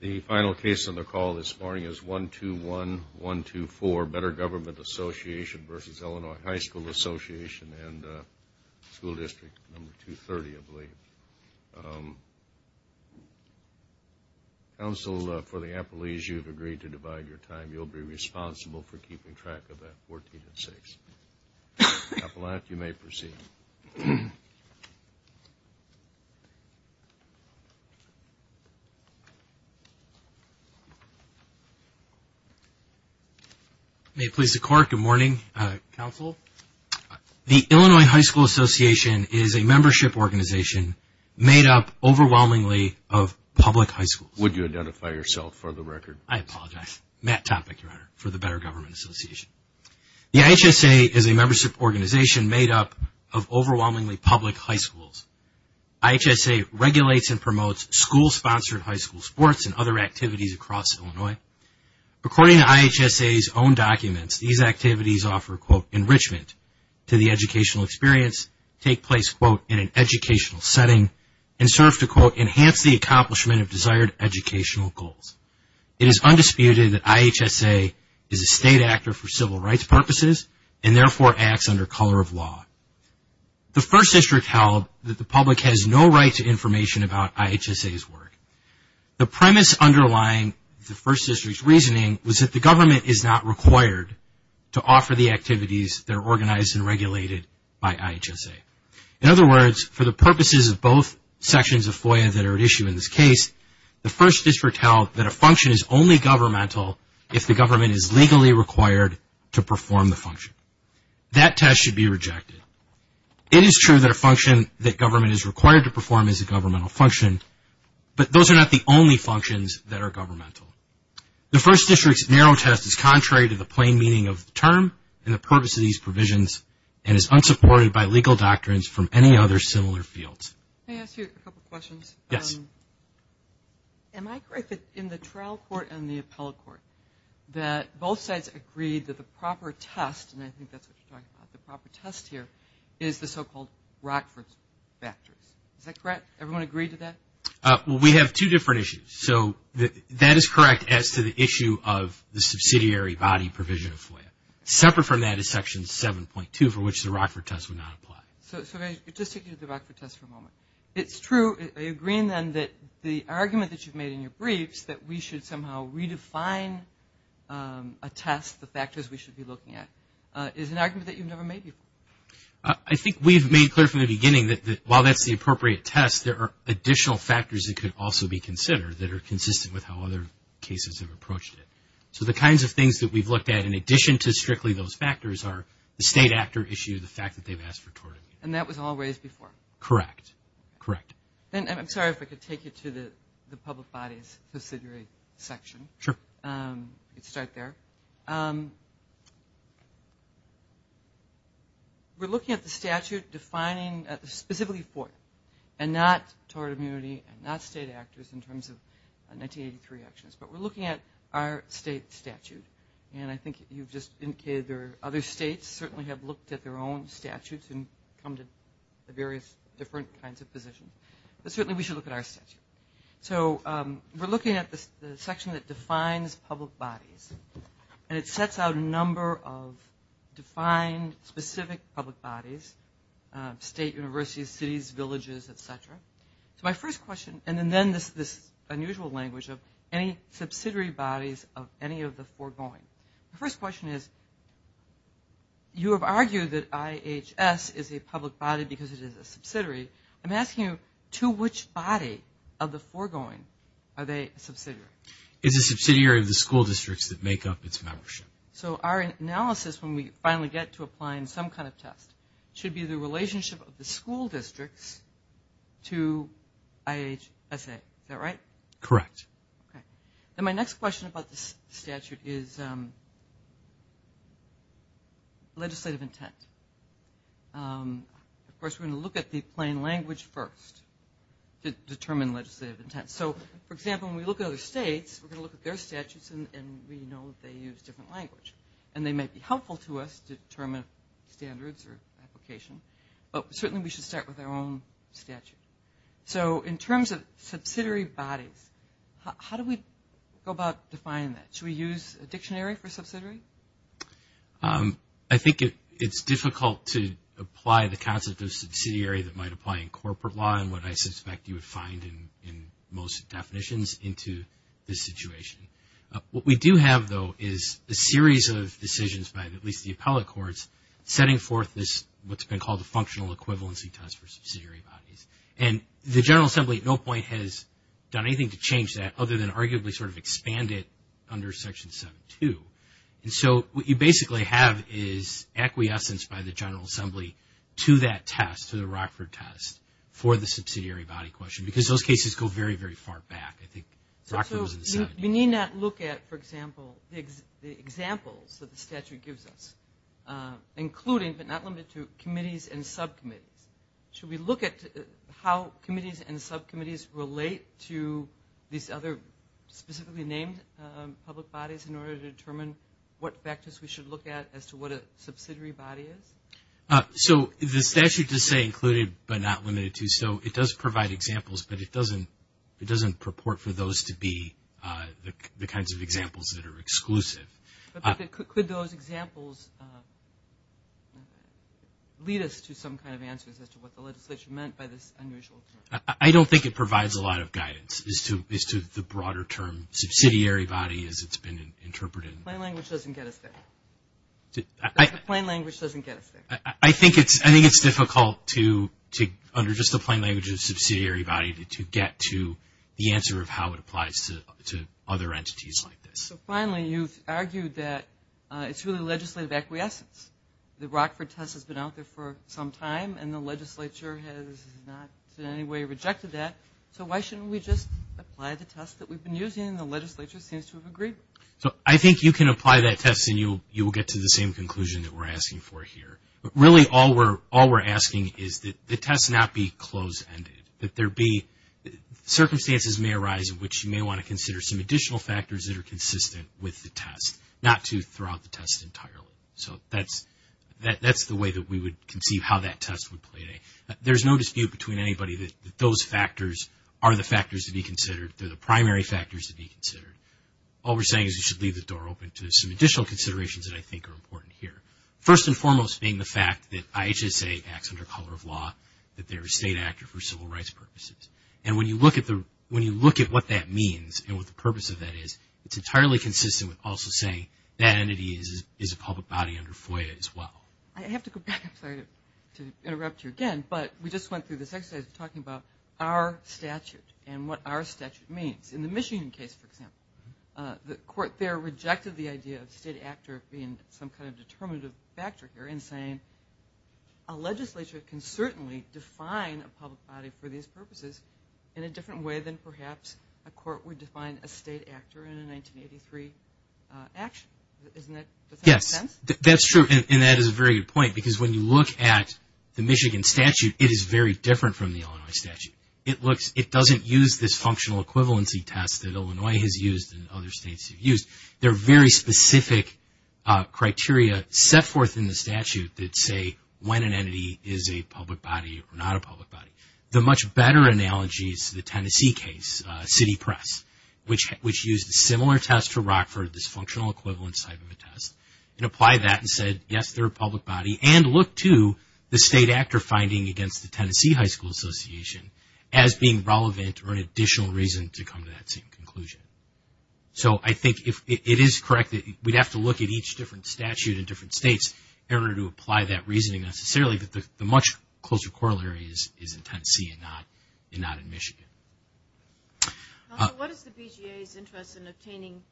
The final case on the call this morning is 121-124, Better Government Association v. Illinois High School Association and School District No. 230, I believe. Counsel for the appellees, you have agreed to divide your time. You will be responsible for keeping track of that 14 and 6. Appellant, you may proceed. May it please the Court, good morning, Counsel. The Illinois High School Association is a membership organization made up overwhelmingly of public high schools. Would you identify yourself for the record? I apologize, Matt Topek, your Honor, for the Better Government Association. The IHSA is a membership organization made up of overwhelmingly public high schools. IHSA regulates and promotes school-sponsored high school sports and other activities across Illinois. According to IHSA's own documents, these activities offer, quote, enrichment to the educational experience, take place, quote, in an educational setting, and serve to, quote, enhance the accomplishment of desired educational goals. It is undisputed that IHSA is a state actor for civil rights purposes and therefore acts under color of law. The First District held that the public has no right to information about IHSA's work. The premise underlying the First District's reasoning was that the government is not required to offer the activities that are organized and regulated by IHSA. In other words, for the purposes of both sections of FOIA that are at issue in this case, the First District held that a function is only governmental if the government is legally required to perform the function. That test should be rejected. It is true that a function that government is required to perform is a governmental function, but those are not the only functions that are governmental. The First District's narrow test is contrary to the plain meaning of the term and the purpose of these provisions and is unsupported by legal doctrines from any other similar fields. Can I ask you a couple questions? Yes. Am I correct that in the trial court and the appellate court that both sides agreed that the proper test, and I think that's what you're talking about, the proper test here, is the so-called Rockford factors. Is that correct? Everyone agree to that? We have two different issues. So that is correct as to the issue of the subsidiary body provision of FOIA. Separate from that is Section 7.2 for which the Rockford test would not apply. So if I could just take you to the Rockford test for a moment. It's true, are you agreeing then that the argument that you've made in your briefs that we should somehow redefine a test, the factors we should be looking at, is an argument that you've never made before? I think we've made clear from the beginning that while that's the appropriate test, there are additional factors that could also be considered that are consistent with how other cases have approached it. So the kinds of things that we've looked at in addition to strictly those factors are the state actor issue, the fact that they've asked for tort. And that was always before? Correct, correct. And I'm sorry if I could take you to the public bodies subsidiary section. Sure. Let's start there. We're looking at the statute defining specifically FOIA and not tort immunity and not state actors in terms of 1983 actions. But we're looking at our state statute. And I think you've just indicated there are other states certainly have looked at their own statutes and come to various different kinds of positions. But certainly we should look at our statute. So we're looking at the section that defines public bodies. And it sets out a number of defined specific public bodies, state universities, cities, villages, et cetera. So my first question, and then this unusual language of any subsidiary bodies of any of the foregoing. My first question is you have argued that IHS is a public body because it is a subsidiary. I'm asking you to which body of the foregoing are they a subsidiary? It's a subsidiary of the school districts that make up its membership. So our analysis when we finally get to applying some kind of test should be the relationship of the school districts to IHSA. Is that right? Correct. Okay. Then my next question about the statute is legislative intent. Of course, we're going to look at the plain language first to determine legislative intent. So, for example, when we look at other states, we're going to look at their statutes and we know they use different language. And they may be helpful to us to determine standards or application. But certainly we should start with our own statute. So in terms of subsidiary bodies, how do we go about defining that? Should we use a dictionary for subsidiary? I think it's difficult to apply the concept of subsidiary that might apply in corporate law and what I suspect you would find in most definitions into this situation. What we do have, though, is a series of decisions by at least the appellate courts setting forth what's been called a functional equivalency test for subsidiary bodies. And the General Assembly at no point has done anything to change that other than arguably sort of expand it under Section 7-2. And so what you basically have is acquiescence by the General Assembly to that test, to the Rockford test, for the subsidiary body question because those cases go very, very far back. I think Rockford was in the 7th. So we need not look at, for example, the examples that the statute gives us, including but not limited to committees and subcommittees. Should we look at how committees and subcommittees relate to these other specifically named public bodies in order to determine what factors we should look at as to what a subsidiary body is? So the statute does say included but not limited to. So it does provide examples, but it doesn't purport for those to be the kinds of examples that are exclusive. Could those examples lead us to some kind of answers as to what the legislature meant by this unusual term? I don't think it provides a lot of guidance as to the broader term subsidiary body as it's been interpreted. Plain language doesn't get us there. Plain language doesn't get us there. I think it's difficult to, under just the plain language of subsidiary body, to get to the answer of how it applies to other entities like this. So finally, you've argued that it's really legislative acquiescence. The Rockford test has been out there for some time, and the legislature has not in any way rejected that. So why shouldn't we just apply the test that we've been using, and the legislature seems to have agreed? So I think you can apply that test, and you will get to the same conclusion that we're asking for here. But really all we're asking is that the test not be closed-ended, that there be circumstances may arise in which you may want to consider some additional factors that are consistent with the test, not to throw out the test entirely. So that's the way that we would conceive how that test would play. There's no dispute between anybody that those factors are the factors to be considered. They're the primary factors to be considered. All we're saying is you should leave the door open to some additional considerations that I think are important here. First and foremost being the fact that IHSA acts under color of law, that they're a state actor for civil rights purposes. And when you look at what that means and what the purpose of that is, it's entirely consistent with also saying that entity is a public body under FOIA as well. I have to go back, I'm sorry to interrupt you again, but we just went through this exercise of talking about our statute and what our statute means. In the Michigan case, for example, the court there rejected the idea of state actor being some kind of determinative factor here in saying a legislature can certainly define a public body for these purposes in a different way than perhaps a court would define a state actor in a 1983 action. Doesn't that make sense? Yes, that's true. And that is a very good point because when you look at the Michigan statute, it is very different from the Illinois statute. It doesn't use this functional equivalency test that Illinois has used and other states have used. There are very specific criteria set forth in the statute that say when an entity is a public body or not a public body. The much better analogy is the Tennessee case, City Press, which used a similar test for Rockford, this functional equivalence type of a test, and applied that and said, yes, they're a public body, and looked to the state actor finding against the Tennessee High School Association as being relevant or an additional reason to come to that same conclusion. So I think it is correct that we'd have to look at each different statute in different states in order to apply that reasoning necessarily, but the much closer corollary is in Tennessee and not in Michigan. What is the BJA's interest in obtaining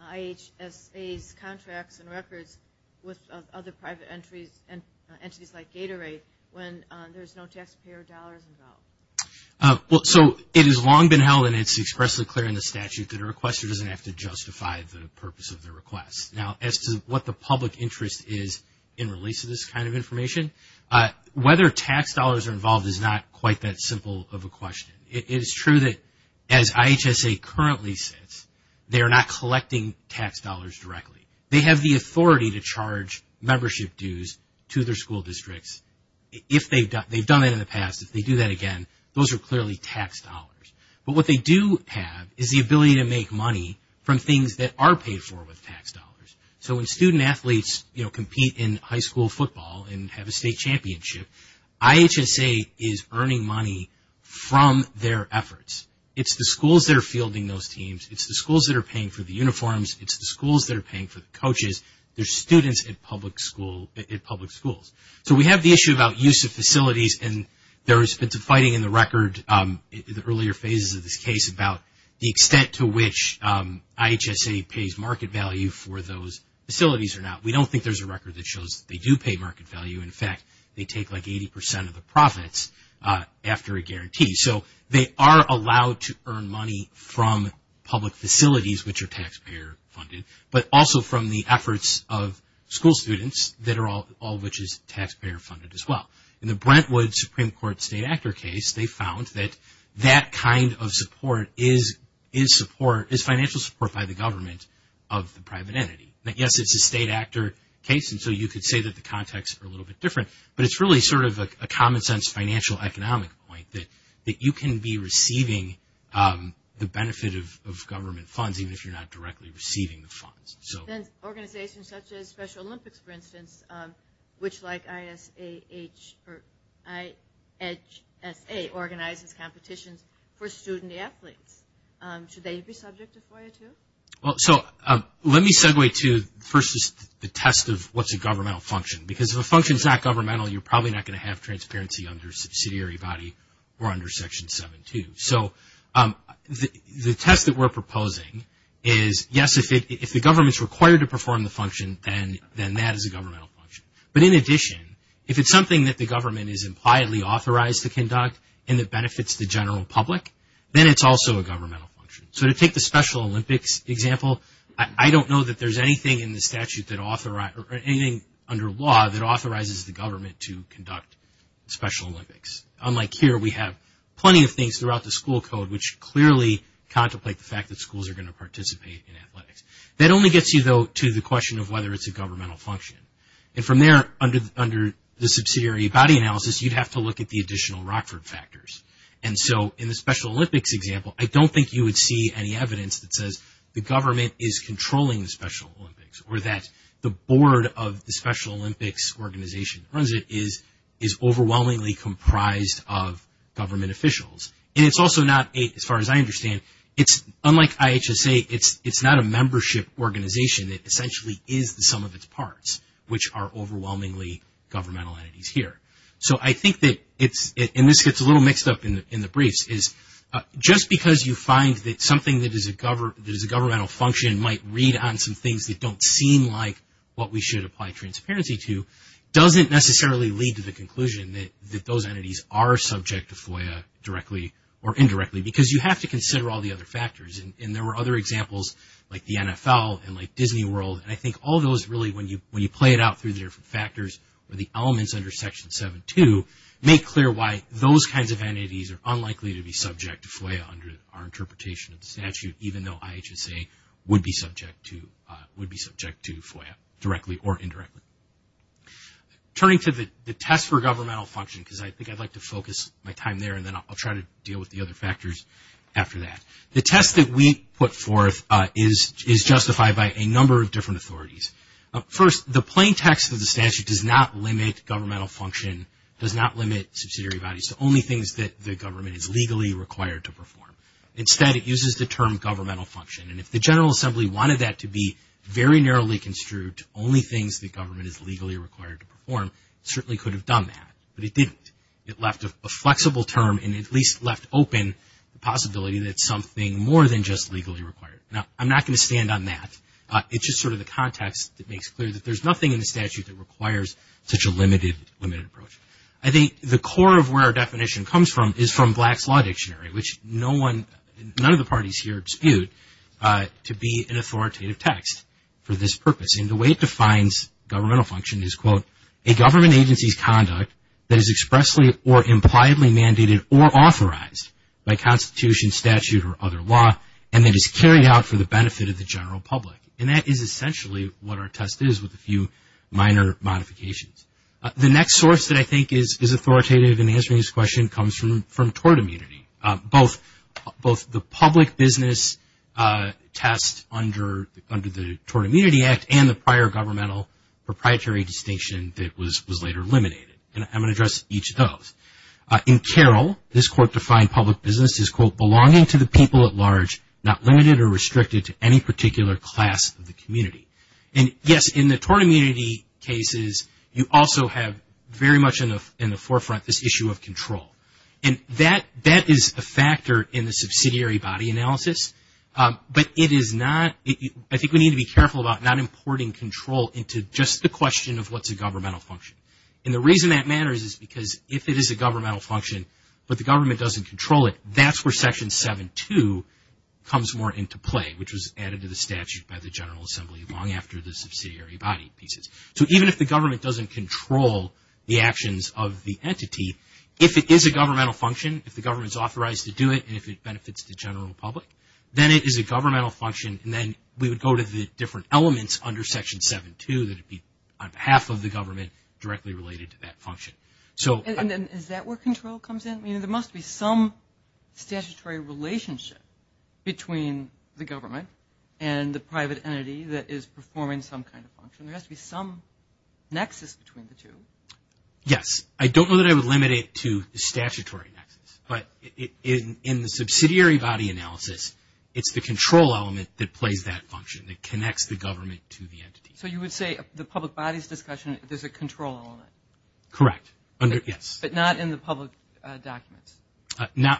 IHSA's contracts and records with other private entities like Gatorade when there's no taxpayer dollars involved? So it has long been held, and it's expressly clear in the statute, that a requester doesn't have to justify the purpose of their request. Now, as to what the public interest is in release of this kind of information, whether tax dollars are involved is not quite that simple of a question. It is true that as IHSA currently sits, they are not collecting tax dollars directly. They have the authority to charge membership dues to their school districts if they've done it in the past. If they do that again, those are clearly tax dollars. But what they do have is the ability to make money from things that are paid for with tax dollars. So when student athletes compete in high school football and have a state championship, IHSA is earning money from their efforts. It's the schools that are fielding those teams. It's the schools that are paying for the uniforms. It's the schools that are paying for the coaches. They're students at public schools. So we have the issue about use of facilities, and there has been some fighting in the record in the earlier phases of this case about the extent to which IHSA pays market value for those facilities or not. We don't think there's a record that shows that they do pay market value. In fact, they take like 80 percent of the profits after a guarantee. So they are allowed to earn money from public facilities, which are taxpayer funded, but also from the efforts of school students, all of which is taxpayer funded as well. In the Brentwood Supreme Court state actor case, they found that that kind of support is financial support by the government of the private entity. Yes, it's a state actor case, and so you could say that the contexts are a little bit different, but it's really sort of a common sense financial economic point that you can be receiving the benefit of government funds even if you're not directly receiving the funds. Then organizations such as Special Olympics, for instance, which like IHSA organizes competitions for student athletes, should they be subject to FOIA too? Well, so let me segue to first the test of what's a governmental function, because if a function is not governmental, you're probably not going to have transparency under a subsidiary body or under Section 7-2. So the test that we're proposing is, yes, if the government's required to perform the function, then that is a governmental function. But in addition, if it's something that the government is impliedly authorized to conduct and it benefits the general public, then it's also a governmental function. So to take the Special Olympics example, I don't know that there's anything under law that authorizes the government to conduct Special Olympics. Unlike here, we have plenty of things throughout the school code which clearly contemplate the fact that schools are going to participate in athletics. That only gets you, though, to the question of whether it's a governmental function. And from there, under the subsidiary body analysis, you'd have to look at the additional Rockford factors. And so in the Special Olympics example, I don't think you would see any evidence that says the government is controlling the Special Olympics or that the board of the Special Olympics organization that runs it is overwhelmingly comprised of government officials. And it's also not, as far as I understand, it's unlike IHSA, it's not a membership organization. It essentially is the sum of its parts, which are overwhelmingly governmental entities here. So I think that it's, and this gets a little mixed up in the briefs, is just because you find that something that is a governmental function might read on some things that don't seem like what we should apply transparency to doesn't necessarily lead to the conclusion that those entities are subject to FOIA directly or indirectly because you have to consider all the other factors. And there were other examples like the NFL and like Disney World. And I think all those really, when you play it out through the different factors or the elements under Section 7-2, make clear why those kinds of entities are unlikely to be subject to FOIA under our interpretation of the statute, even though IHSA would be subject to FOIA directly or indirectly. Turning to the test for governmental function, because I think I'd like to focus my time there and then I'll try to deal with the other factors after that. The test that we put forth is justified by a number of different authorities. First, the plain text of the statute does not limit governmental function, does not limit subsidiary values to only things that the government is legally required to perform. Instead, it uses the term governmental function. And if the General Assembly wanted that to be very narrowly construed to only things the government is legally required to perform, it certainly could have done that. But it didn't. It left a flexible term and at least left open the possibility that something more than just legally required. Now, I'm not going to stand on that. It's just sort of the context that makes clear that there's nothing in the statute that requires such a limited approach. I think the core of where our definition comes from is from Black's Law Dictionary, which none of the parties here dispute to be an authoritative text for this purpose. And the way it defines governmental function is, quote, a government agency's conduct that is expressly or impliedly mandated or authorized by constitution, statute, or other law, and that is carried out for the benefit of the general public. And that is essentially what our test is with a few minor modifications. The next source that I think is authoritative in answering this question comes from tort immunity. Both the public business test under the Tort Immunity Act and the prior governmental proprietary distinction that was later eliminated. And I'm going to address each of those. In Carroll, this court defined public business as, quote, not limited or restricted to any particular class of the community. And yes, in the tort immunity cases, you also have very much in the forefront this issue of control. And that is a factor in the subsidiary body analysis. But it is not – I think we need to be careful about not importing control into just the question of what's a governmental function. And the reason that matters is because if it is a governmental function, but the government doesn't control it, that's where Section 7-2 comes more into play, which was added to the statute by the General Assembly long after the subsidiary body pieces. So even if the government doesn't control the actions of the entity, if it is a governmental function, if the government is authorized to do it, and if it benefits the general public, then it is a governmental function. And then we would go to the different elements under Section 7-2 And is that where control comes in? I mean, there must be some statutory relationship between the government and the private entity that is performing some kind of function. There has to be some nexus between the two. Yes. I don't know that I would limit it to the statutory nexus. But in the subsidiary body analysis, it's the control element that plays that function, that connects the government to the entity. So you would say the public body's discussion, there's a control element. Correct. Yes. But not in the public documents.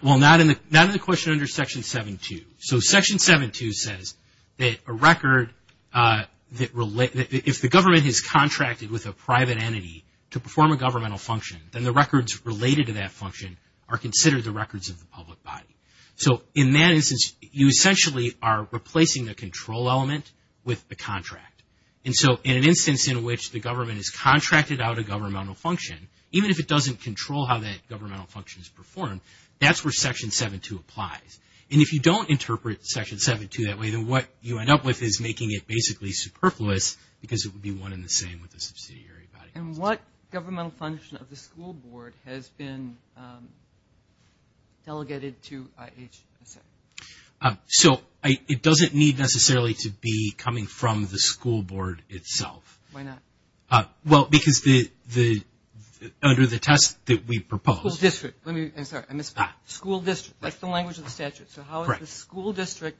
Well, not in the question under Section 7-2. So Section 7-2 says that if the government has contracted with a private entity to perform a governmental function, then the records related to that function are considered the records of the public body. And so in an instance in which the government has contracted out a governmental function, even if it doesn't control how that governmental function is performed, that's where Section 7-2 applies. And if you don't interpret Section 7-2 that way, then what you end up with is making it basically superfluous because it would be one and the same with the subsidiary body. And what governmental function of the school board has been delegated to IHSS? So it doesn't need necessarily to be coming from the school board itself. Why not? Well, because under the test that we proposed. School district. I'm sorry, I missed that. School district. That's the language of the statute. So how is the school district,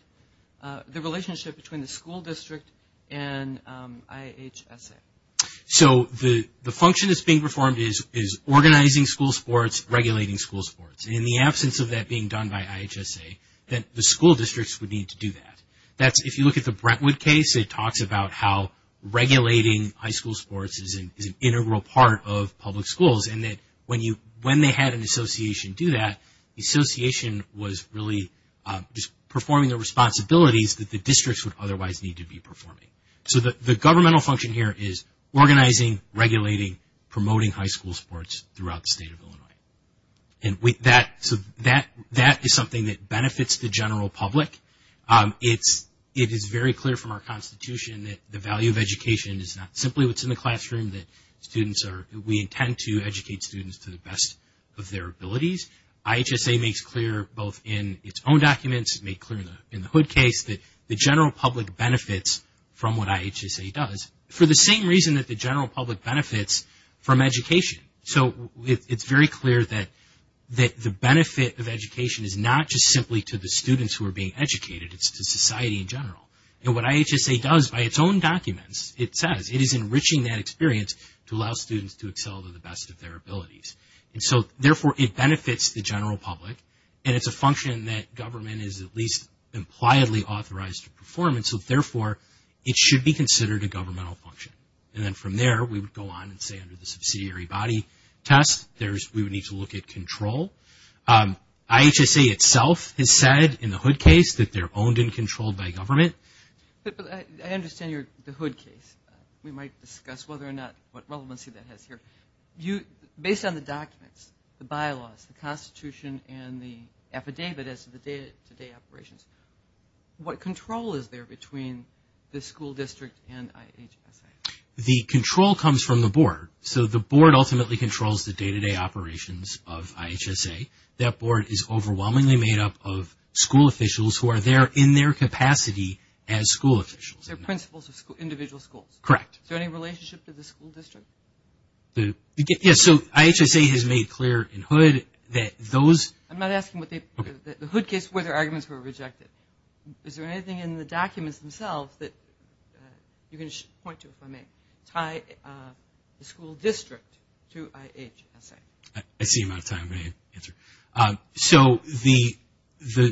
the relationship between the school district and IHSS? So the function that's being performed is organizing school sports, regulating school sports. And in the absence of that being done by IHSS, then the school districts would need to do that. If you look at the Brentwood case, it talks about how regulating high school sports is an integral part of public schools, and that when they had an association do that, the association was really just performing the responsibilities that the districts would otherwise need to be performing. So the governmental function here is organizing, regulating, promoting high school sports throughout the state of Illinois. And that is something that benefits the general public. It is very clear from our constitution that the value of education is not simply what's in the classroom, that we intend to educate students to the best of their abilities. IHSA makes clear both in its own documents, it made clear in the Hood case that the general public benefits from what IHSA does, for the same reason that the general public benefits from education. So it's very clear that the benefit of education is not just simply to the students who are being educated, it's to society in general. And what IHSA does by its own documents, it says, it is enriching that experience to allow students to excel to the best of their abilities. And so therefore it benefits the general public, and it's a function that government is at least impliedly authorized to perform, and so therefore it should be considered a governmental function. And then from there we would go on and say under the subsidiary body test, we would need to look at control. IHSA itself has said in the Hood case that they're owned and controlled by government. But I understand the Hood case. We might discuss whether or not, what relevancy that has here. Based on the documents, the bylaws, the constitution, and the affidavit as to the day-to-day operations, what control is there between the school district and IHSA? The control comes from the board. So the board ultimately controls the day-to-day operations of IHSA. That board is overwhelmingly made up of school officials who are there in their capacity as school officials. They're principals of individual schools. Correct. Is there any relationship to the school district? Yes, so IHSA has made clear in Hood that those. I'm not asking what the. Okay. The Hood case where their arguments were rejected. Is there anything in the documents themselves that you can point to if I may, tie the school district to IHSA? I see you're out of time. I'm going to answer. So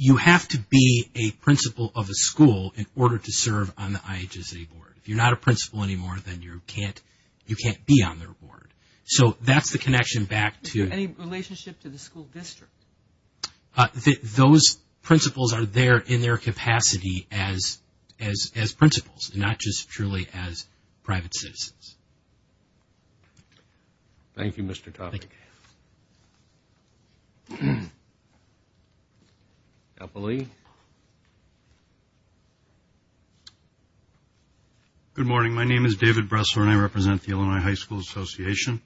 you have to be a principal of a school in order to serve on the IHSA board. If you're not a principal anymore, then you can't be on their board. So that's the connection back to. Any relationship to the school district? Those principals are there in their capacity as principals, not just truly as private citizens. Thank you, Mr. Topping. Thank you. Apple Lee. Good morning. My name is David Bressler, and I represent the Illinois High School Association.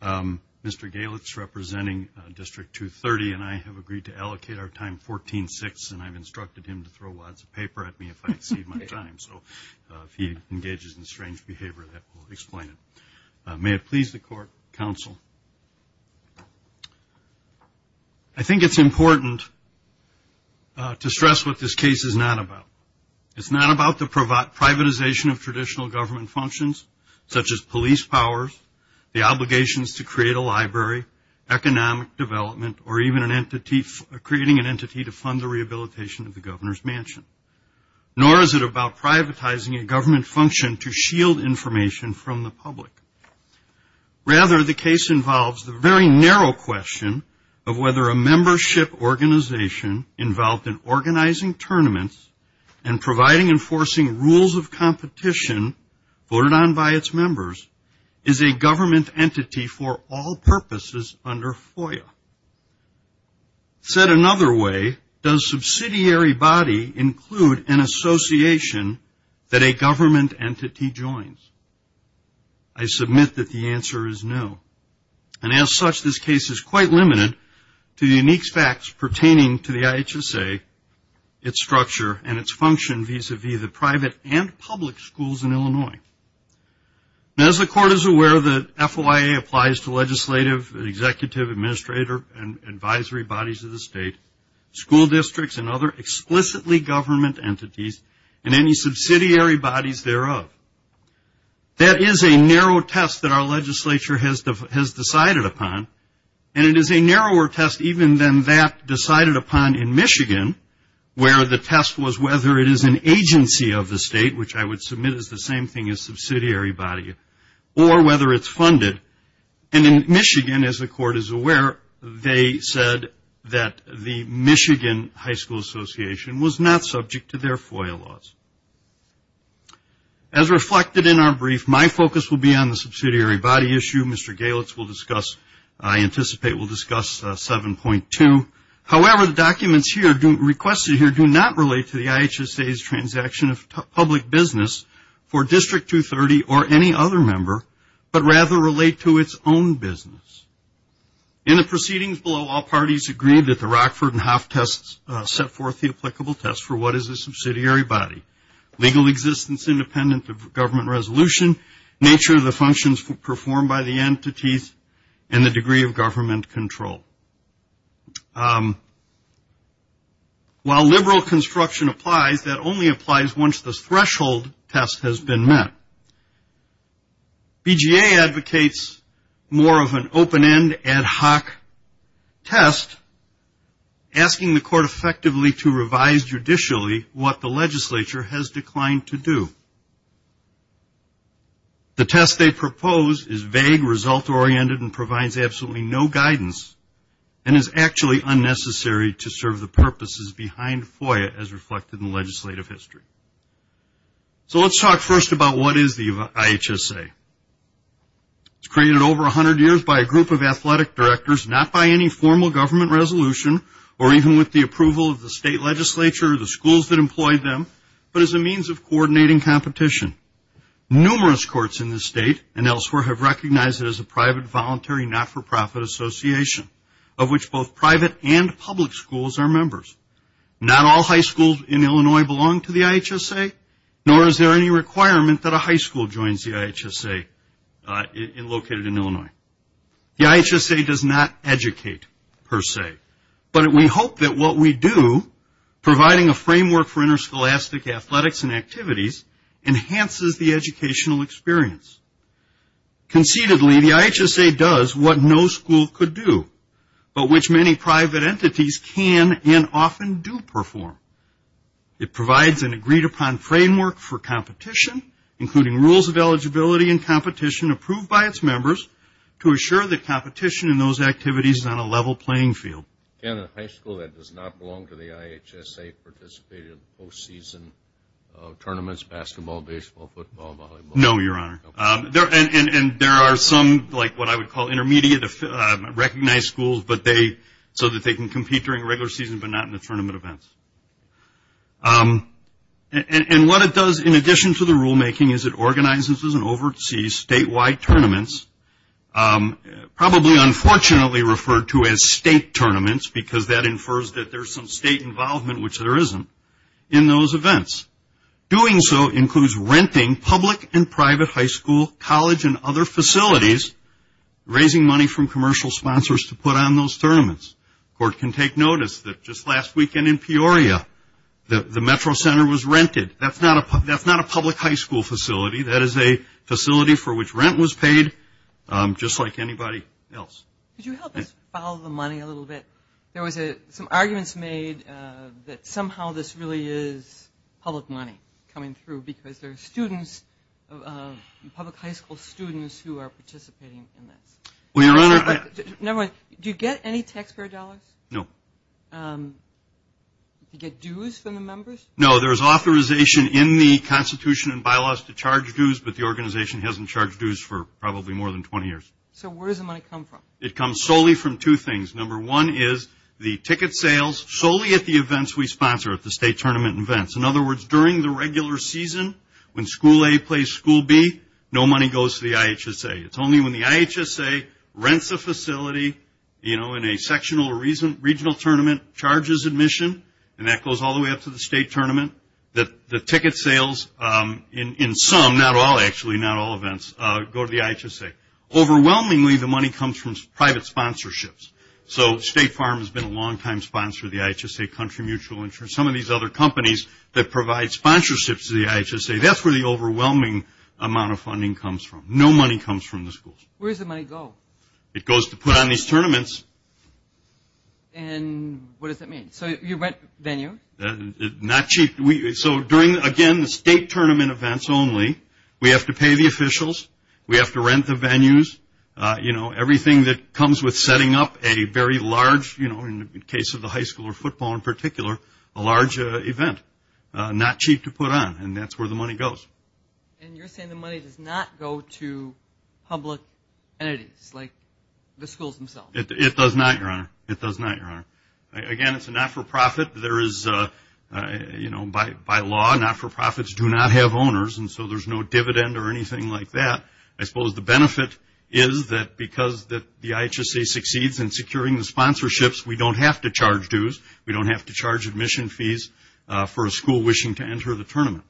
Mr. Galitz, representing District 230, and I have agreed to allocate our time 14-6, and I've instructed him to throw wads of paper at me if I exceed my time. So if he engages in strange behavior, that will explain it. May it please the court, counsel. I think it's important to stress what this case is not about. It's not about the privatization of traditional government functions, such as police powers, the obligations to create a library, economic development, or even creating an entity to fund the rehabilitation of the governor's mansion. Nor is it about privatizing a government function to shield information from the public. Rather, the case involves the very narrow question of whether a membership organization involved in organizing tournaments and providing and forcing rules of competition voted on by its members, is a government entity for all purposes under FOIA. Said another way, does subsidiary body include an association that a government entity joins? I submit that the answer is no. And as such, this case is quite limited to the unique facts pertaining to the IHSA, its structure, and its function vis-a-vis the private and public schools in Illinois. As the court is aware, the FOIA applies to legislative, executive, administrator, and advisory bodies of the state, school districts, and other explicitly government entities, and any subsidiary bodies thereof. That is a narrow test that our legislature has decided upon, and it is a narrower test even than that decided upon in Michigan, where the test was whether it is an agency of the state, which I would submit is the same thing as subsidiary body, or whether it's funded. And in Michigan, as the court is aware, they said that the Michigan High School Association was not subject to their FOIA laws. As reflected in our brief, my focus will be on the subsidiary body issue. Mr. Galitz will discuss, I anticipate will discuss 7.2. However, the documents requested here do not relate to the IHSA's transaction of public business for District 230 or any other member, but rather relate to its own business. In the proceedings below, all parties agreed that the Rockford and Hoff tests set forth the applicable test for what is a subsidiary body. Legal existence independent of government resolution, nature of the functions performed by the entities, and the degree of government control. While liberal construction applies, that only applies once the threshold test has been met. BGA advocates more of an open-end, ad hoc test, asking the court effectively to revise judicially what the legislature has declined to do. The test they propose is vague, result-oriented, and provides absolutely no guidance, and is actually unnecessary to serve the purposes behind FOIA, as reflected in legislative history. So let's talk first about what is the IHSA. It's created over 100 years by a group of athletic directors, not by any formal government resolution, or even with the approval of the state legislature or the schools that employed them, but as a means of coordinating competition. Numerous courts in this state and elsewhere have recognized it as a private, voluntary, not-for-profit association, of which both private and public schools are members. Not all high schools in Illinois belong to the IHSA, nor is there any requirement that a high school joins the IHSA located in Illinois. The IHSA does not educate, per se, but we hope that what we do, providing a framework for interscholastic athletics and activities, enhances the educational experience. Conceitedly, the IHSA does what no school could do, but which many private entities can and often do perform. It provides an agreed-upon framework for competition, including rules of eligibility and competition approved by its members, to assure that competition in those activities is on a level playing field. Can a high school that does not belong to the IHSA participate in post-season tournaments, basketball, baseball, football, volleyball? No, Your Honor. And there are some, like what I would call intermediate, recognized schools, so that they can compete during regular season but not in the tournament events. And what it does, in addition to the rulemaking, is it organizes and oversees statewide tournaments, probably unfortunately referred to as state tournaments, because that infers that there's some state involvement, which there isn't, in those events. Doing so includes renting public and private high school, college, and other facilities, raising money from commercial sponsors to put on those tournaments. The Court can take notice that just last weekend in Peoria, the Metro Center was rented. That's not a public high school facility. That is a facility for which rent was paid, just like anybody else. Could you help us follow the money a little bit? There was some arguments made that somehow this really is public money coming through because there are students, public high school students, who are participating in this. Never mind. Do you get any taxpayer dollars? No. Do you get dues from the members? No. There is authorization in the Constitution and bylaws to charge dues, but the organization hasn't charged dues for probably more than 20 years. So where does the money come from? It comes solely from two things. Number one is the ticket sales solely at the events we sponsor, at the state tournament events. In other words, during the regular season, when school A plays school B, no money goes to the IHSA. It's only when the IHSA rents a facility in a sectional or regional tournament, charges admission, and that goes all the way up to the state tournament, that the ticket sales in some, not all actually, not all events, go to the IHSA. Overwhelmingly, the money comes from private sponsorships. So State Farm has been a longtime sponsor of the IHSA, Country Mutual Insurance, some of these other companies that provide sponsorships to the IHSA. That's where the overwhelming amount of funding comes from. No money comes from the schools. Where does the money go? It goes to put on these tournaments. And what does that mean? So you rent venue? Not cheap. So during, again, the state tournament events only, we have to pay the officials. We have to rent the venues. You know, everything that comes with setting up a very large, you know, in the case of the high school or football in particular, a large event. Not cheap to put on, and that's where the money goes. And you're saying the money does not go to public entities, like the schools themselves? It does not, Your Honor. It does not, Your Honor. Again, it's a not-for-profit. There is, you know, by law, not-for-profits do not have owners, and so there's no dividend or anything like that. I suppose the benefit is that because the IHSA succeeds in securing the sponsorships, we don't have to charge dues. We don't have to charge admission fees for a school wishing to enter the tournament.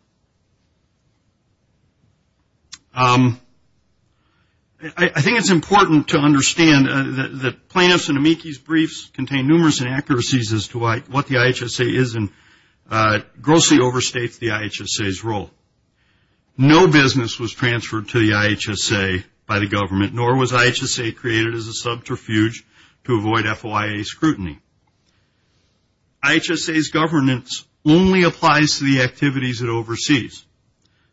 I think it's important to understand that plaintiffs' and amici's briefs contain numerous inaccuracies as to what the IHSA is and grossly overstates the IHSA's role. No business was transferred to the IHSA by the government, nor was IHSA created as a subterfuge to avoid FOIA scrutiny. IHSA's governance only applies to the activities it oversees.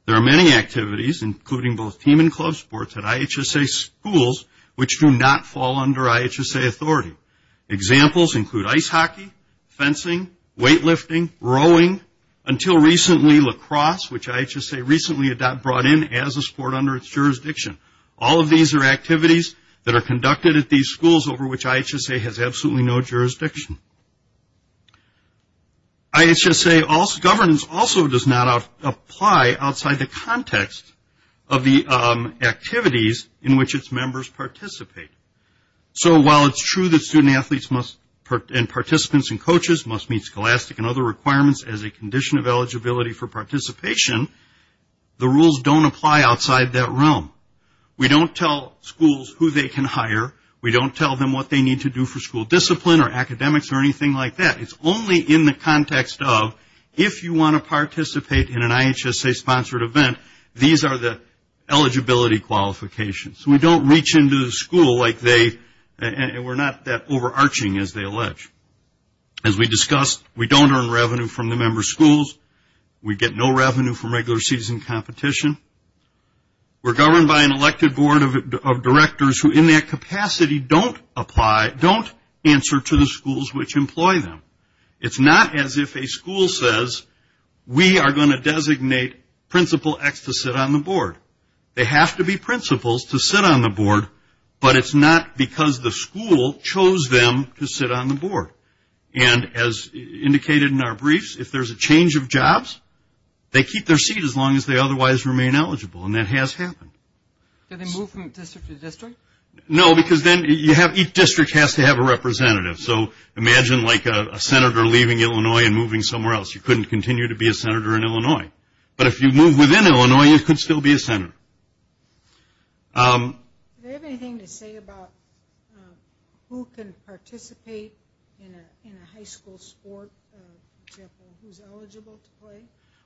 There are many activities, including both team and club sports, at IHSA schools which do not fall under IHSA authority. Examples include ice hockey, fencing, weightlifting, rowing, until recently lacrosse, which IHSA recently brought in as a sport under its jurisdiction. All of these are activities that are conducted at these schools over which IHSA has absolutely no jurisdiction. IHSA governance also does not apply outside the context of the activities in which its members participate. So while it's true that student athletes and participants and coaches must meet scholastic and other requirements as a condition of eligibility for participation, the rules don't apply outside that realm. We don't tell schools who they can hire. We don't tell them what they need to do for school discipline or academics or anything like that. It's only in the context of if you want to participate in an IHSA-sponsored event, these are the eligibility qualifications. We don't reach into the school like they, and we're not that overarching as they allege. As we discussed, we don't earn revenue from the member schools. We get no revenue from regular season competition. We're governed by an elected board of directors who in their capacity don't apply, don't answer to the schools which employ them. It's not as if a school says, we are going to designate Principal X to sit on the board. They have to be principals to sit on the board, but it's not because the school chose them to sit on the board. And as indicated in our briefs, if there's a change of jobs, they keep their seat as long as they otherwise remain eligible, and that has happened. Do they move from district to district? No, because then each district has to have a representative. So imagine like a senator leaving Illinois and moving somewhere else. You couldn't continue to be a senator in Illinois. But if you move within Illinois, you could still be a senator. Do they have anything to say about who can participate in a high school sport? For example, who's eligible to play?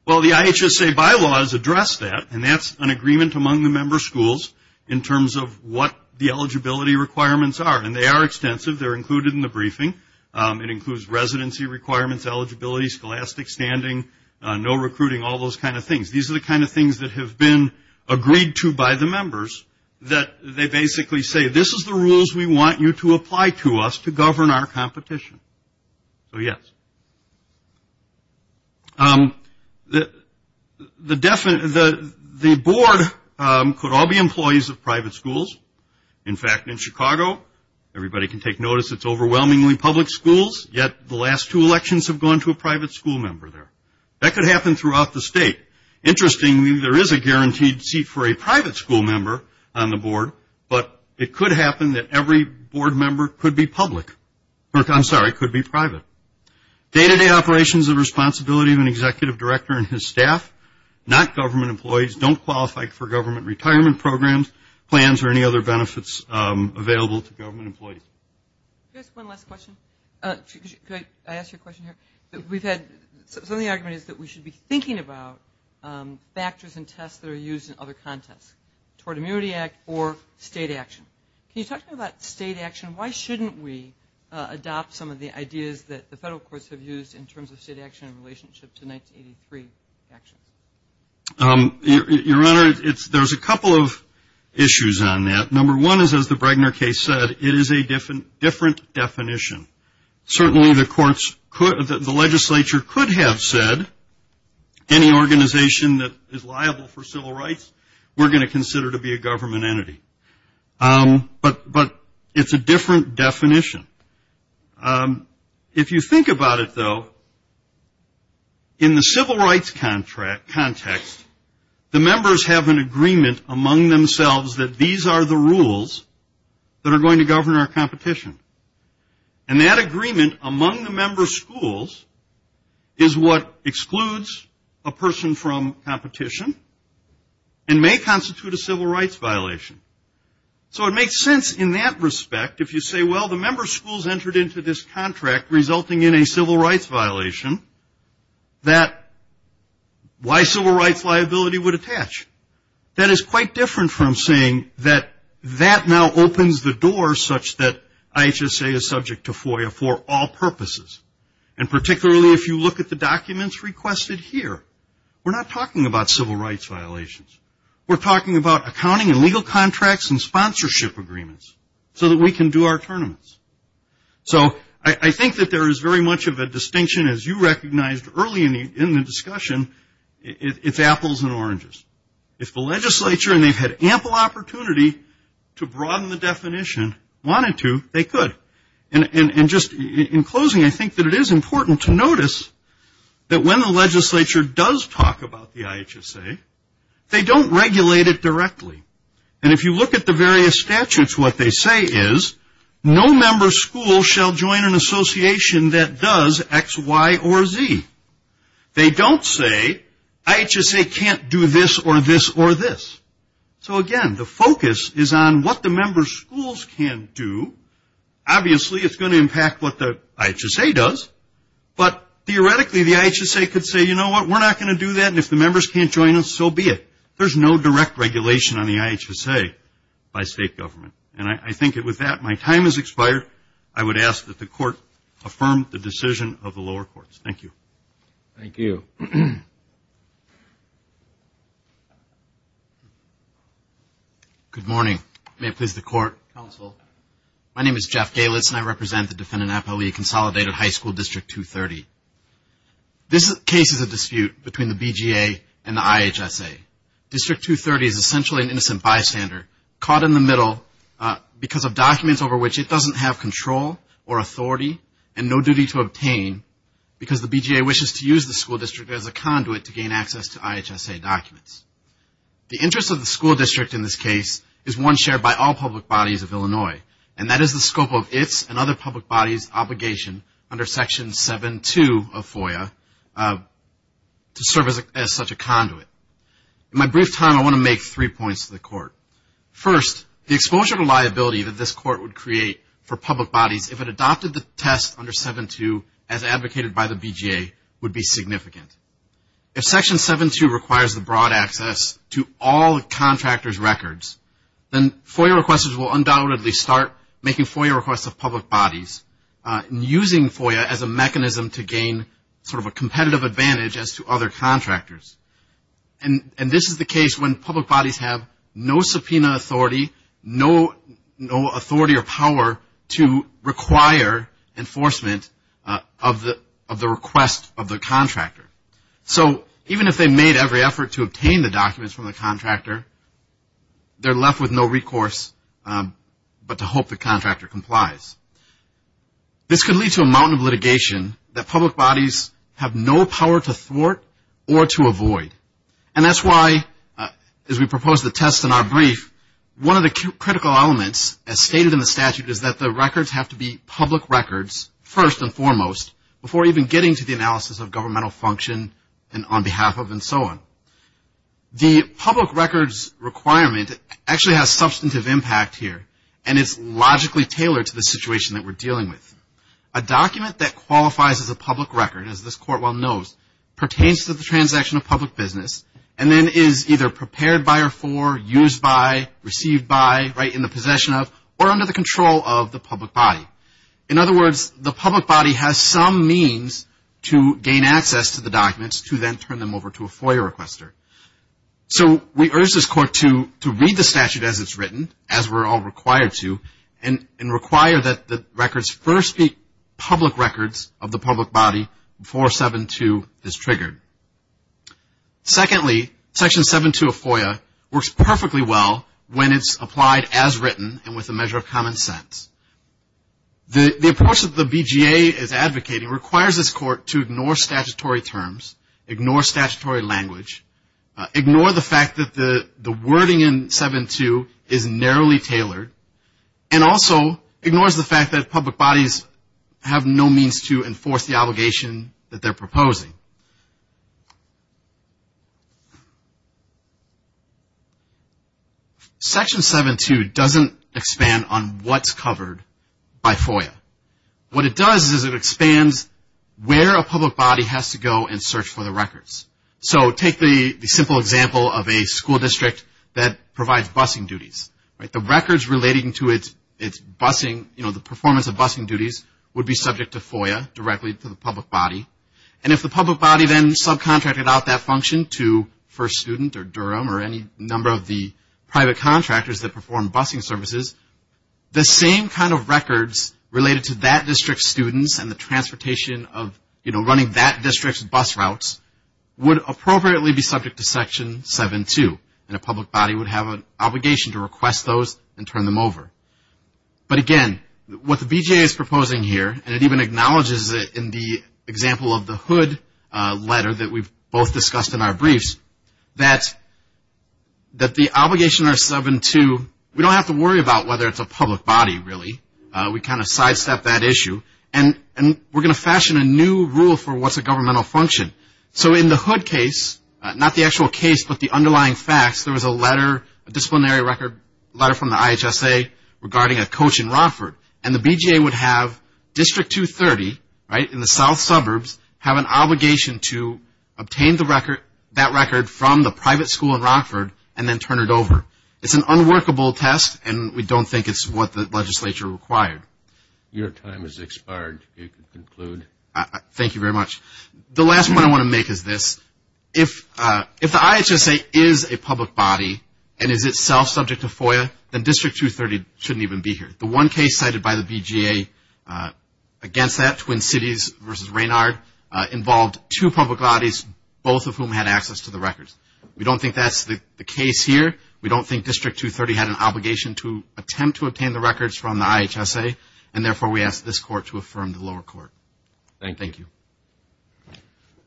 Well, the IHSA bylaws address that, and that's an agreement among the member schools in terms of what the eligibility requirements are, and they are extensive. They're included in the briefing. It includes residency requirements, eligibility, scholastic standing, no recruiting, all those kind of things. These are the kind of things that have been agreed to by the members that they basically say, this is the rules we want you to apply to us to govern our competition. So, yes. The board could all be employees of private schools. In fact, in Chicago, everybody can take notice it's overwhelmingly public schools, yet the last two elections have gone to a private school member there. That could happen throughout the state. Interestingly, there is a guaranteed seat for a private school member on the board, but it could happen that every board member could be public. I'm sorry, could be private. Day-to-day operations are the responsibility of an executive director and his staff, not government employees. Don't qualify for government retirement programs, plans, or any other benefits available to government employees. Could I ask one last question? Could I ask you a question here? We've had some of the argument is that we should be thinking about factors and tests that are used in other contests, toward Immunity Act or state action. Can you talk to me about state action? Why shouldn't we adopt some of the ideas that the federal courts have used in terms of state action in relationship to 1983 actions? Your Honor, there's a couple of issues on that. Number one is, as the Bregner case said, it is a different definition. Certainly, the legislature could have said, any organization that is liable for civil rights we're going to consider to be a government entity. But it's a different definition. If you think about it, though, in the civil rights context, the members have an agreement among themselves that these are the rules that are going to govern our competition. And that agreement among the member schools is what excludes a person from competition and may constitute a civil rights violation. So it makes sense in that respect, if you say, well, the member schools entered into this contract resulting in a civil rights violation, why civil rights liability would attach? That is quite different from saying that that now opens the door such that IHSA is subject to FOIA for all purposes. And particularly if you look at the documents requested here, we're not talking about civil rights violations. We're talking about accounting and legal contracts and sponsorship agreements so that we can do our tournaments. So I think that there is very much of a distinction, as you recognized early in the discussion, it's apples and oranges. If the legislature, and they've had ample opportunity to broaden the definition, wanted to, they could. And just in closing, I think that it is important to notice that when the legislature does talk about the IHSA, they don't regulate it directly. And if you look at the various statutes, what they say is, no member school shall join an association that does X, Y, or Z. They don't say IHSA can't do this or this or this. So again, the focus is on what the member schools can do. Obviously, it's going to impact what the IHSA does. But theoretically, the IHSA could say, you know what, we're not going to do that, and if the members can't join us, so be it. There's no direct regulation on the IHSA by state government. And I think with that, my time has expired. I would ask that the Court affirm the decision of the lower courts. Thank you. Thank you. Good morning. May it please the Court. Counsel. My name is Jeff Galitz, and I represent the defendant appellee at Consolidated High School District 230. This case is a dispute between the BGA and the IHSA. District 230 is essentially an innocent bystander caught in the middle because of documents over which it doesn't have control or authority and no duty to obtain because the BGA wishes to use the school district as a conduit to gain access to IHSA documents. The interest of the school district in this case is one shared by all public bodies of Illinois, and that is the scope of its and other public bodies' obligation under Section 7-2 of FOIA to serve as such a conduit. In my brief time, I want to make three points to the Court. First, the exposure to liability that this Court would create for public bodies if it adopted the test under 7-2 as advocated by the BGA would be significant. If Section 7-2 requires the broad access to all the contractor's records, then FOIA requesters will undoubtedly start making FOIA requests of public bodies and using FOIA as a mechanism to gain sort of a competitive advantage as to other contractors. And this is the case when public bodies have no subpoena authority, no authority or power to require enforcement of the request of the contractor. So even if they made every effort to obtain the documents from the contractor, they're left with no recourse but to hope the contractor complies. This could lead to a mountain of litigation that public bodies have no power to thwart or to avoid, and that's why, as we propose the test in our brief, one of the critical elements, as stated in the statute, is that the records have to be public records first and foremost before even getting to the analysis of governmental function and on behalf of and so on. The public records requirement actually has substantive impact here, and it's logically tailored to the situation that we're dealing with. A document that qualifies as a public record, as this Court well knows, pertains to the transaction of public business and then is either prepared by or for, used by, received by, right in the possession of, or under the control of the public body. In other words, the public body has some means to gain access to the documents to then turn them over to a FOIA requester. So we urge this Court to read the statute as it's written, as we're all required to, and require that the records first be public records of the public body before 7-2 is triggered. Secondly, Section 7-2 of FOIA works perfectly well when it's applied as written and with a measure of common sense. The approach that the BGA is advocating requires this Court to ignore statutory terms, ignore statutory language, ignore the fact that the wording in 7-2 is narrowly tailored, and also ignores the fact that public bodies have no means to enforce the obligation that they're proposing. Section 7-2 doesn't expand on what's covered by FOIA. What it does is it expands where a public body has to go and search for the records. So take the simple example of a school district that provides busing duties. The records relating to its busing, you know, the performance of busing duties, would be subject to FOIA directly to the public body. And if the public body then subcontracted out that function to First Student or Durham or any number of the private contractors that perform busing services, the same kind of records related to that district's students and the transportation of, you know, running that district's bus routes, would appropriately be subject to Section 7-2. And a public body would have an obligation to request those and turn them over. But again, what the BJA is proposing here, and it even acknowledges it in the example of the Hood letter that we've both discussed in our briefs, that the obligation under 7-2, we don't have to worry about whether it's a public body, really. We kind of sidestep that issue. And we're going to fashion a new rule for what's a governmental function. So in the Hood case, not the actual case, but the underlying facts, there was a letter, a disciplinary record letter from the IHSA regarding a coach in Rockford. And the BJA would have District 230, right, in the south suburbs, have an obligation to obtain that record from the private school in Rockford and then turn it over. It's an unworkable test, and we don't think it's what the legislature required. Your time has expired. You can conclude. Thank you very much. The last one I want to make is this. If the IHSA is a public body and is itself subject to FOIA, then District 230 shouldn't even be here. The one case cited by the BJA against that, Twin Cities v. Raynard, involved two public bodies, both of whom had access to the records. We don't think that's the case here. We don't think District 230 had an obligation to attempt to obtain the records from the IHSA, and therefore we ask this Court to affirm to the lower court. Thank you.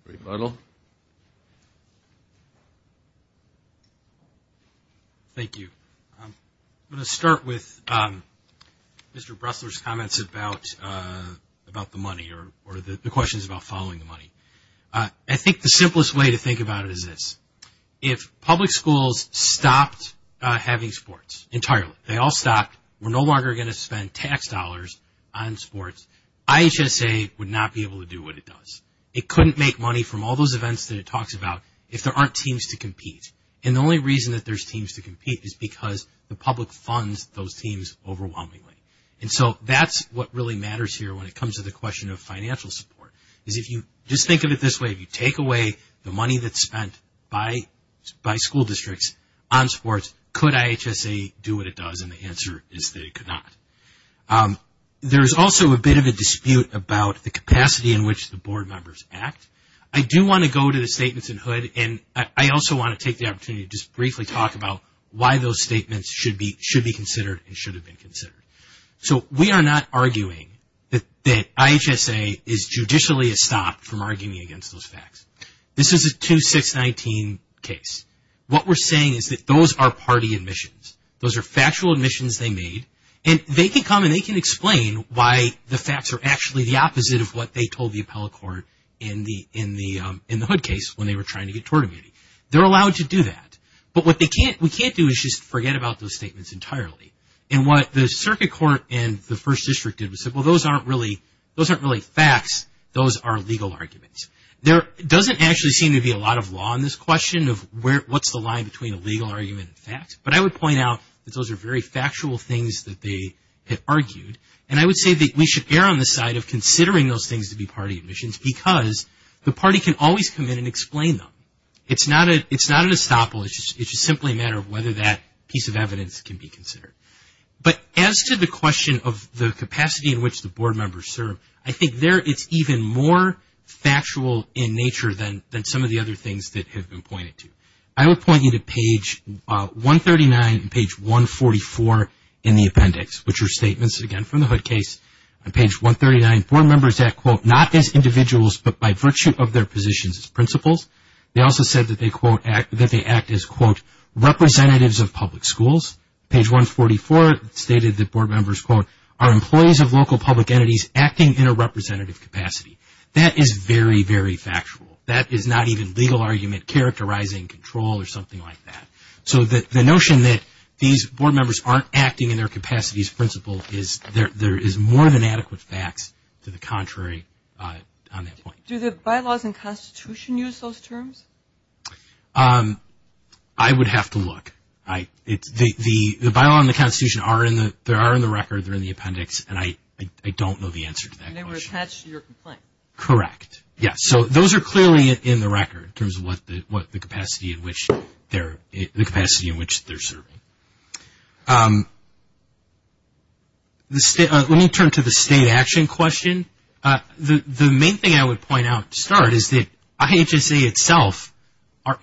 Rebuttal. Thank you. I'm going to start with Mr. Bressler's comments about the money or the questions about following the money. I think the simplest way to think about it is this. If public schools stopped having sports entirely, they all stopped, we're no longer going to spend tax dollars on sports, IHSA would not be able to do what it does. It couldn't make money from all those events that it talks about if there aren't teams to compete. And the only reason that there's teams to compete is because the public funds those teams overwhelmingly. And so that's what really matters here when it comes to the question of financial support, is if you just think of it this way, if you take away the money that's spent by school districts on sports, could IHSA do what it does? And the answer is that it could not. There is also a bit of a dispute about the capacity in which the board members act. I do want to go to the statements in Hood, and I also want to take the opportunity to just briefly talk about why those statements should be considered and should have been considered. So we are not arguing that IHSA is judicially estopped from arguing against those facts. This is a 2619 case. What we're saying is that those are party admissions. Those are factual admissions they made, and they can come and they can explain why the facts are actually the opposite of what they told the appellate court in the Hood case when they were trying to get tort immunity. They're allowed to do that. But what we can't do is just forget about those statements entirely. And what the circuit court and the first district did was say, well, those aren't really facts, those are legal arguments. There doesn't actually seem to be a lot of law in this question of what's the line between a legal argument and facts, but I would point out that those are very factual things that they had argued, and I would say that we should err on the side of considering those things to be party admissions because the party can always come in and explain them. It's not an estoppel. It's just simply a matter of whether that piece of evidence can be considered. But as to the question of the capacity in which the board members serve, I think there it's even more factual in nature than some of the other things that have been pointed to. I would point you to page 139 and page 144 in the appendix, which are statements, again, from the Hood case. On page 139, board members act, quote, not as individuals but by virtue of their positions as principals. They also said that they act as, quote, representatives of public schools. Page 144 stated that board members, quote, are employees of local public entities acting in a representative capacity. That is very, very factual. That is not even legal argument characterizing control or something like that. So the notion that these board members aren't acting in their capacities, principal, there is more than adequate facts to the contrary on that point. Do the bylaws and Constitution use those terms? I would have to look. The bylaws and the Constitution are in the record. They're in the appendix, and I don't know the answer to that question. And they were attached to your complaint. Correct. Yes. So those are clearly in the record in terms of what the capacity in which they're serving. Let me turn to the state action question. The main thing I would point out to start is that IHSA itself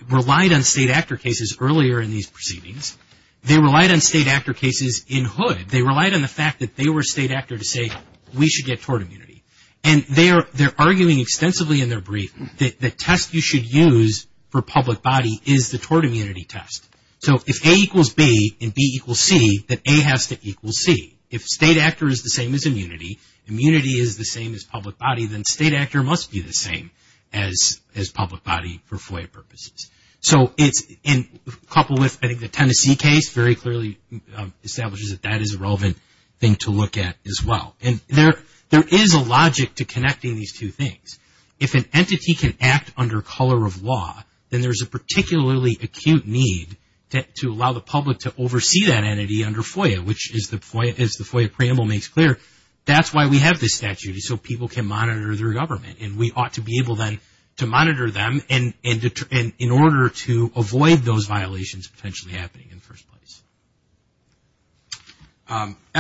relied on state actor cases earlier in these proceedings. They relied on state actor cases in Hood. They relied on the fact that they were a state actor to say we should get tort immunity. And they're arguing extensively in their brief that the test you should use for public body is the tort immunity test. So if A equals B and B equals C, then A has to equal C. If state actor is the same as immunity, immunity is the same as public body, then state actor must be the same as public body for FOIA purposes. So it's in couple with I think the Tennessee case very clearly establishes that that is a relevant thing to look at as well. And there is a logic to connecting these two things. If an entity can act under color of law, then there's a particularly acute need to allow the public to oversee that entity under FOIA, which is the FOIA preamble makes clear. That's why we have this statute is so people can monitor their government. And we ought to be able then to monitor them in order to avoid those violations potentially happening in the first place.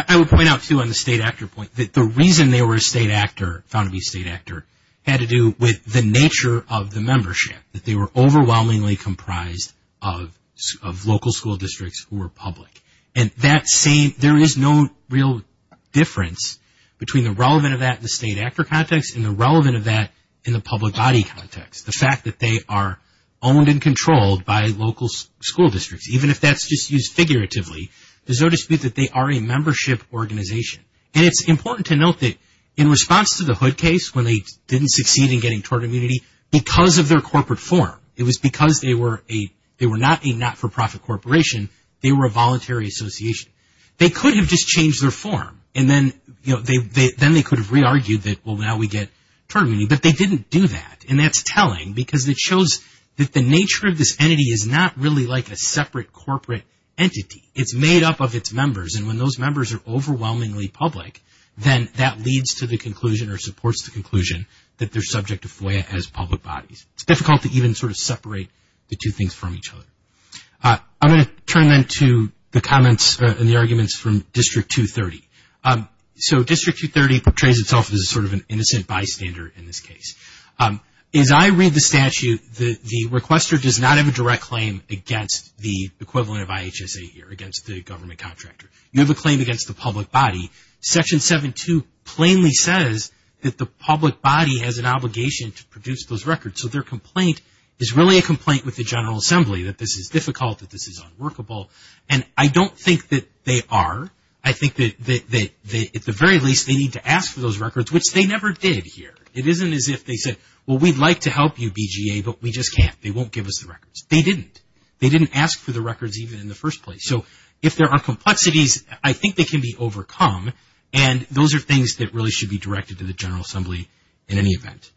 I would point out too on the state actor point that the reason they were a state actor, found to be a state actor, had to do with the nature of the membership. That they were overwhelmingly comprised of local school districts who were public. And that same, there is no real difference between the relevant of that in the state actor context and the relevant of that in the public body context. The fact that they are owned and controlled by local school districts. Even if that's just used figuratively, there's no dispute that they are a membership organization. And it's important to note that in response to the Hood case, when they didn't succeed in getting tort immunity because of their corporate form. It was because they were not a not-for-profit corporation. They were a voluntary association. They could have just changed their form. And then they could have re-argued that, well, now we get tort immunity. But they didn't do that. And that's telling because it shows that the nature of this entity is not really like a separate corporate entity. It's made up of its members. And when those members are overwhelmingly public, then that leads to the conclusion or supports the conclusion that they're subject to FOIA as public bodies. It's difficult to even sort of separate the two things from each other. I'm going to turn then to the comments and the arguments from District 230. So District 230 portrays itself as sort of an innocent bystander in this case. As I read the statute, the requester does not have a direct claim against the equivalent of IHSA here, against the government contractor. You have a claim against the public body. Section 7-2 plainly says that the public body has an obligation to produce those records. So their complaint is really a complaint with the General Assembly that this is difficult, that this is unworkable. And I don't think that they are. I think that at the very least they need to ask for those records, which they never did here. It isn't as if they said, well, we'd like to help you, BGA, but we just can't. They won't give us the records. They didn't. They didn't ask for the records even in the first place. So if there are complexities, I think they can be overcome. And those are things that really should be directed to the General Assembly in any event.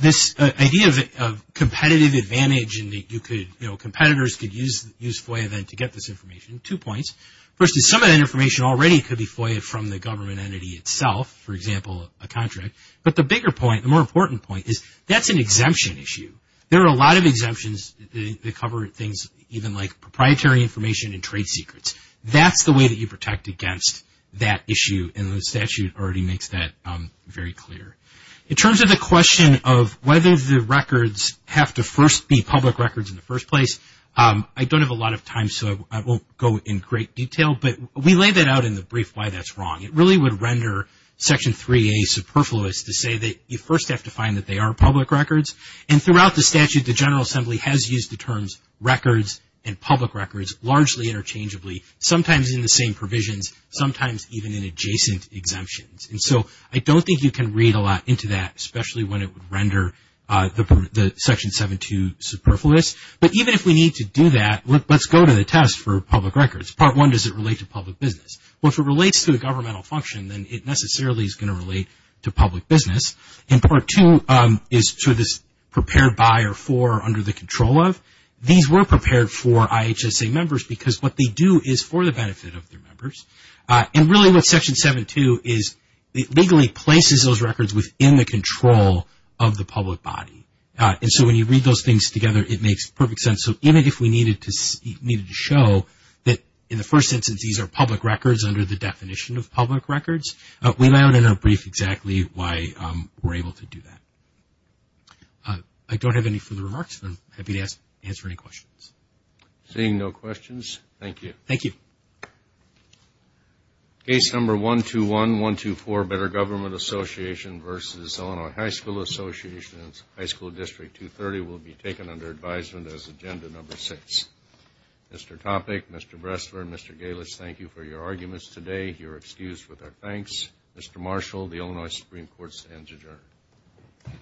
This idea of competitive advantage and that you could, you know, competitors could use FOIA then to get this information, two points. First is some of that information already could be FOIA from the government entity itself, for example, a contract. But the bigger point, the more important point is that's an exemption issue. There are a lot of exemptions that cover things even like proprietary information and trade secrets. That's the way that you protect against that issue, and the statute already makes that very clear. In terms of the question of whether the records have to first be public records in the first place, I don't have a lot of time so I won't go in great detail, but we laid that out in the brief why that's wrong. It really would render Section 3A superfluous to say that you first have to find that they are public records. And throughout the statute, the General Assembly has used the terms records and public records largely interchangeably, sometimes in the same provisions, sometimes even in adjacent exemptions. And so I don't think you can read a lot into that, especially when it would render the Section 7-2 superfluous. But even if we need to do that, let's go to the test for public records. Part 1, does it relate to public business? Well, if it relates to a governmental function, then it necessarily is going to relate to public business. And Part 2 is sort of this prepared by or for or under the control of. These were prepared for IHSA members because what they do is for the benefit of their members. And really what Section 7-2 is, it legally places those records within the control of the public body. And so when you read those things together, it makes perfect sense. So even if we needed to show that in the first instance these are public records under the definition of public records, we lay out in a brief exactly why we're able to do that. I don't have any further remarks, but I'm happy to answer any questions. Seeing no questions, thank you. Thank you. Case Number 121-124, Better Government Association v. Illinois High School Association, High School District 230, will be taken under advisement as Agenda Number 6. Mr. Topic, Mr. Bressler, Mr. Galich, thank you for your arguments today. You're excused with our thanks. Mr. Marshall, the Illinois Supreme Court stands adjourned.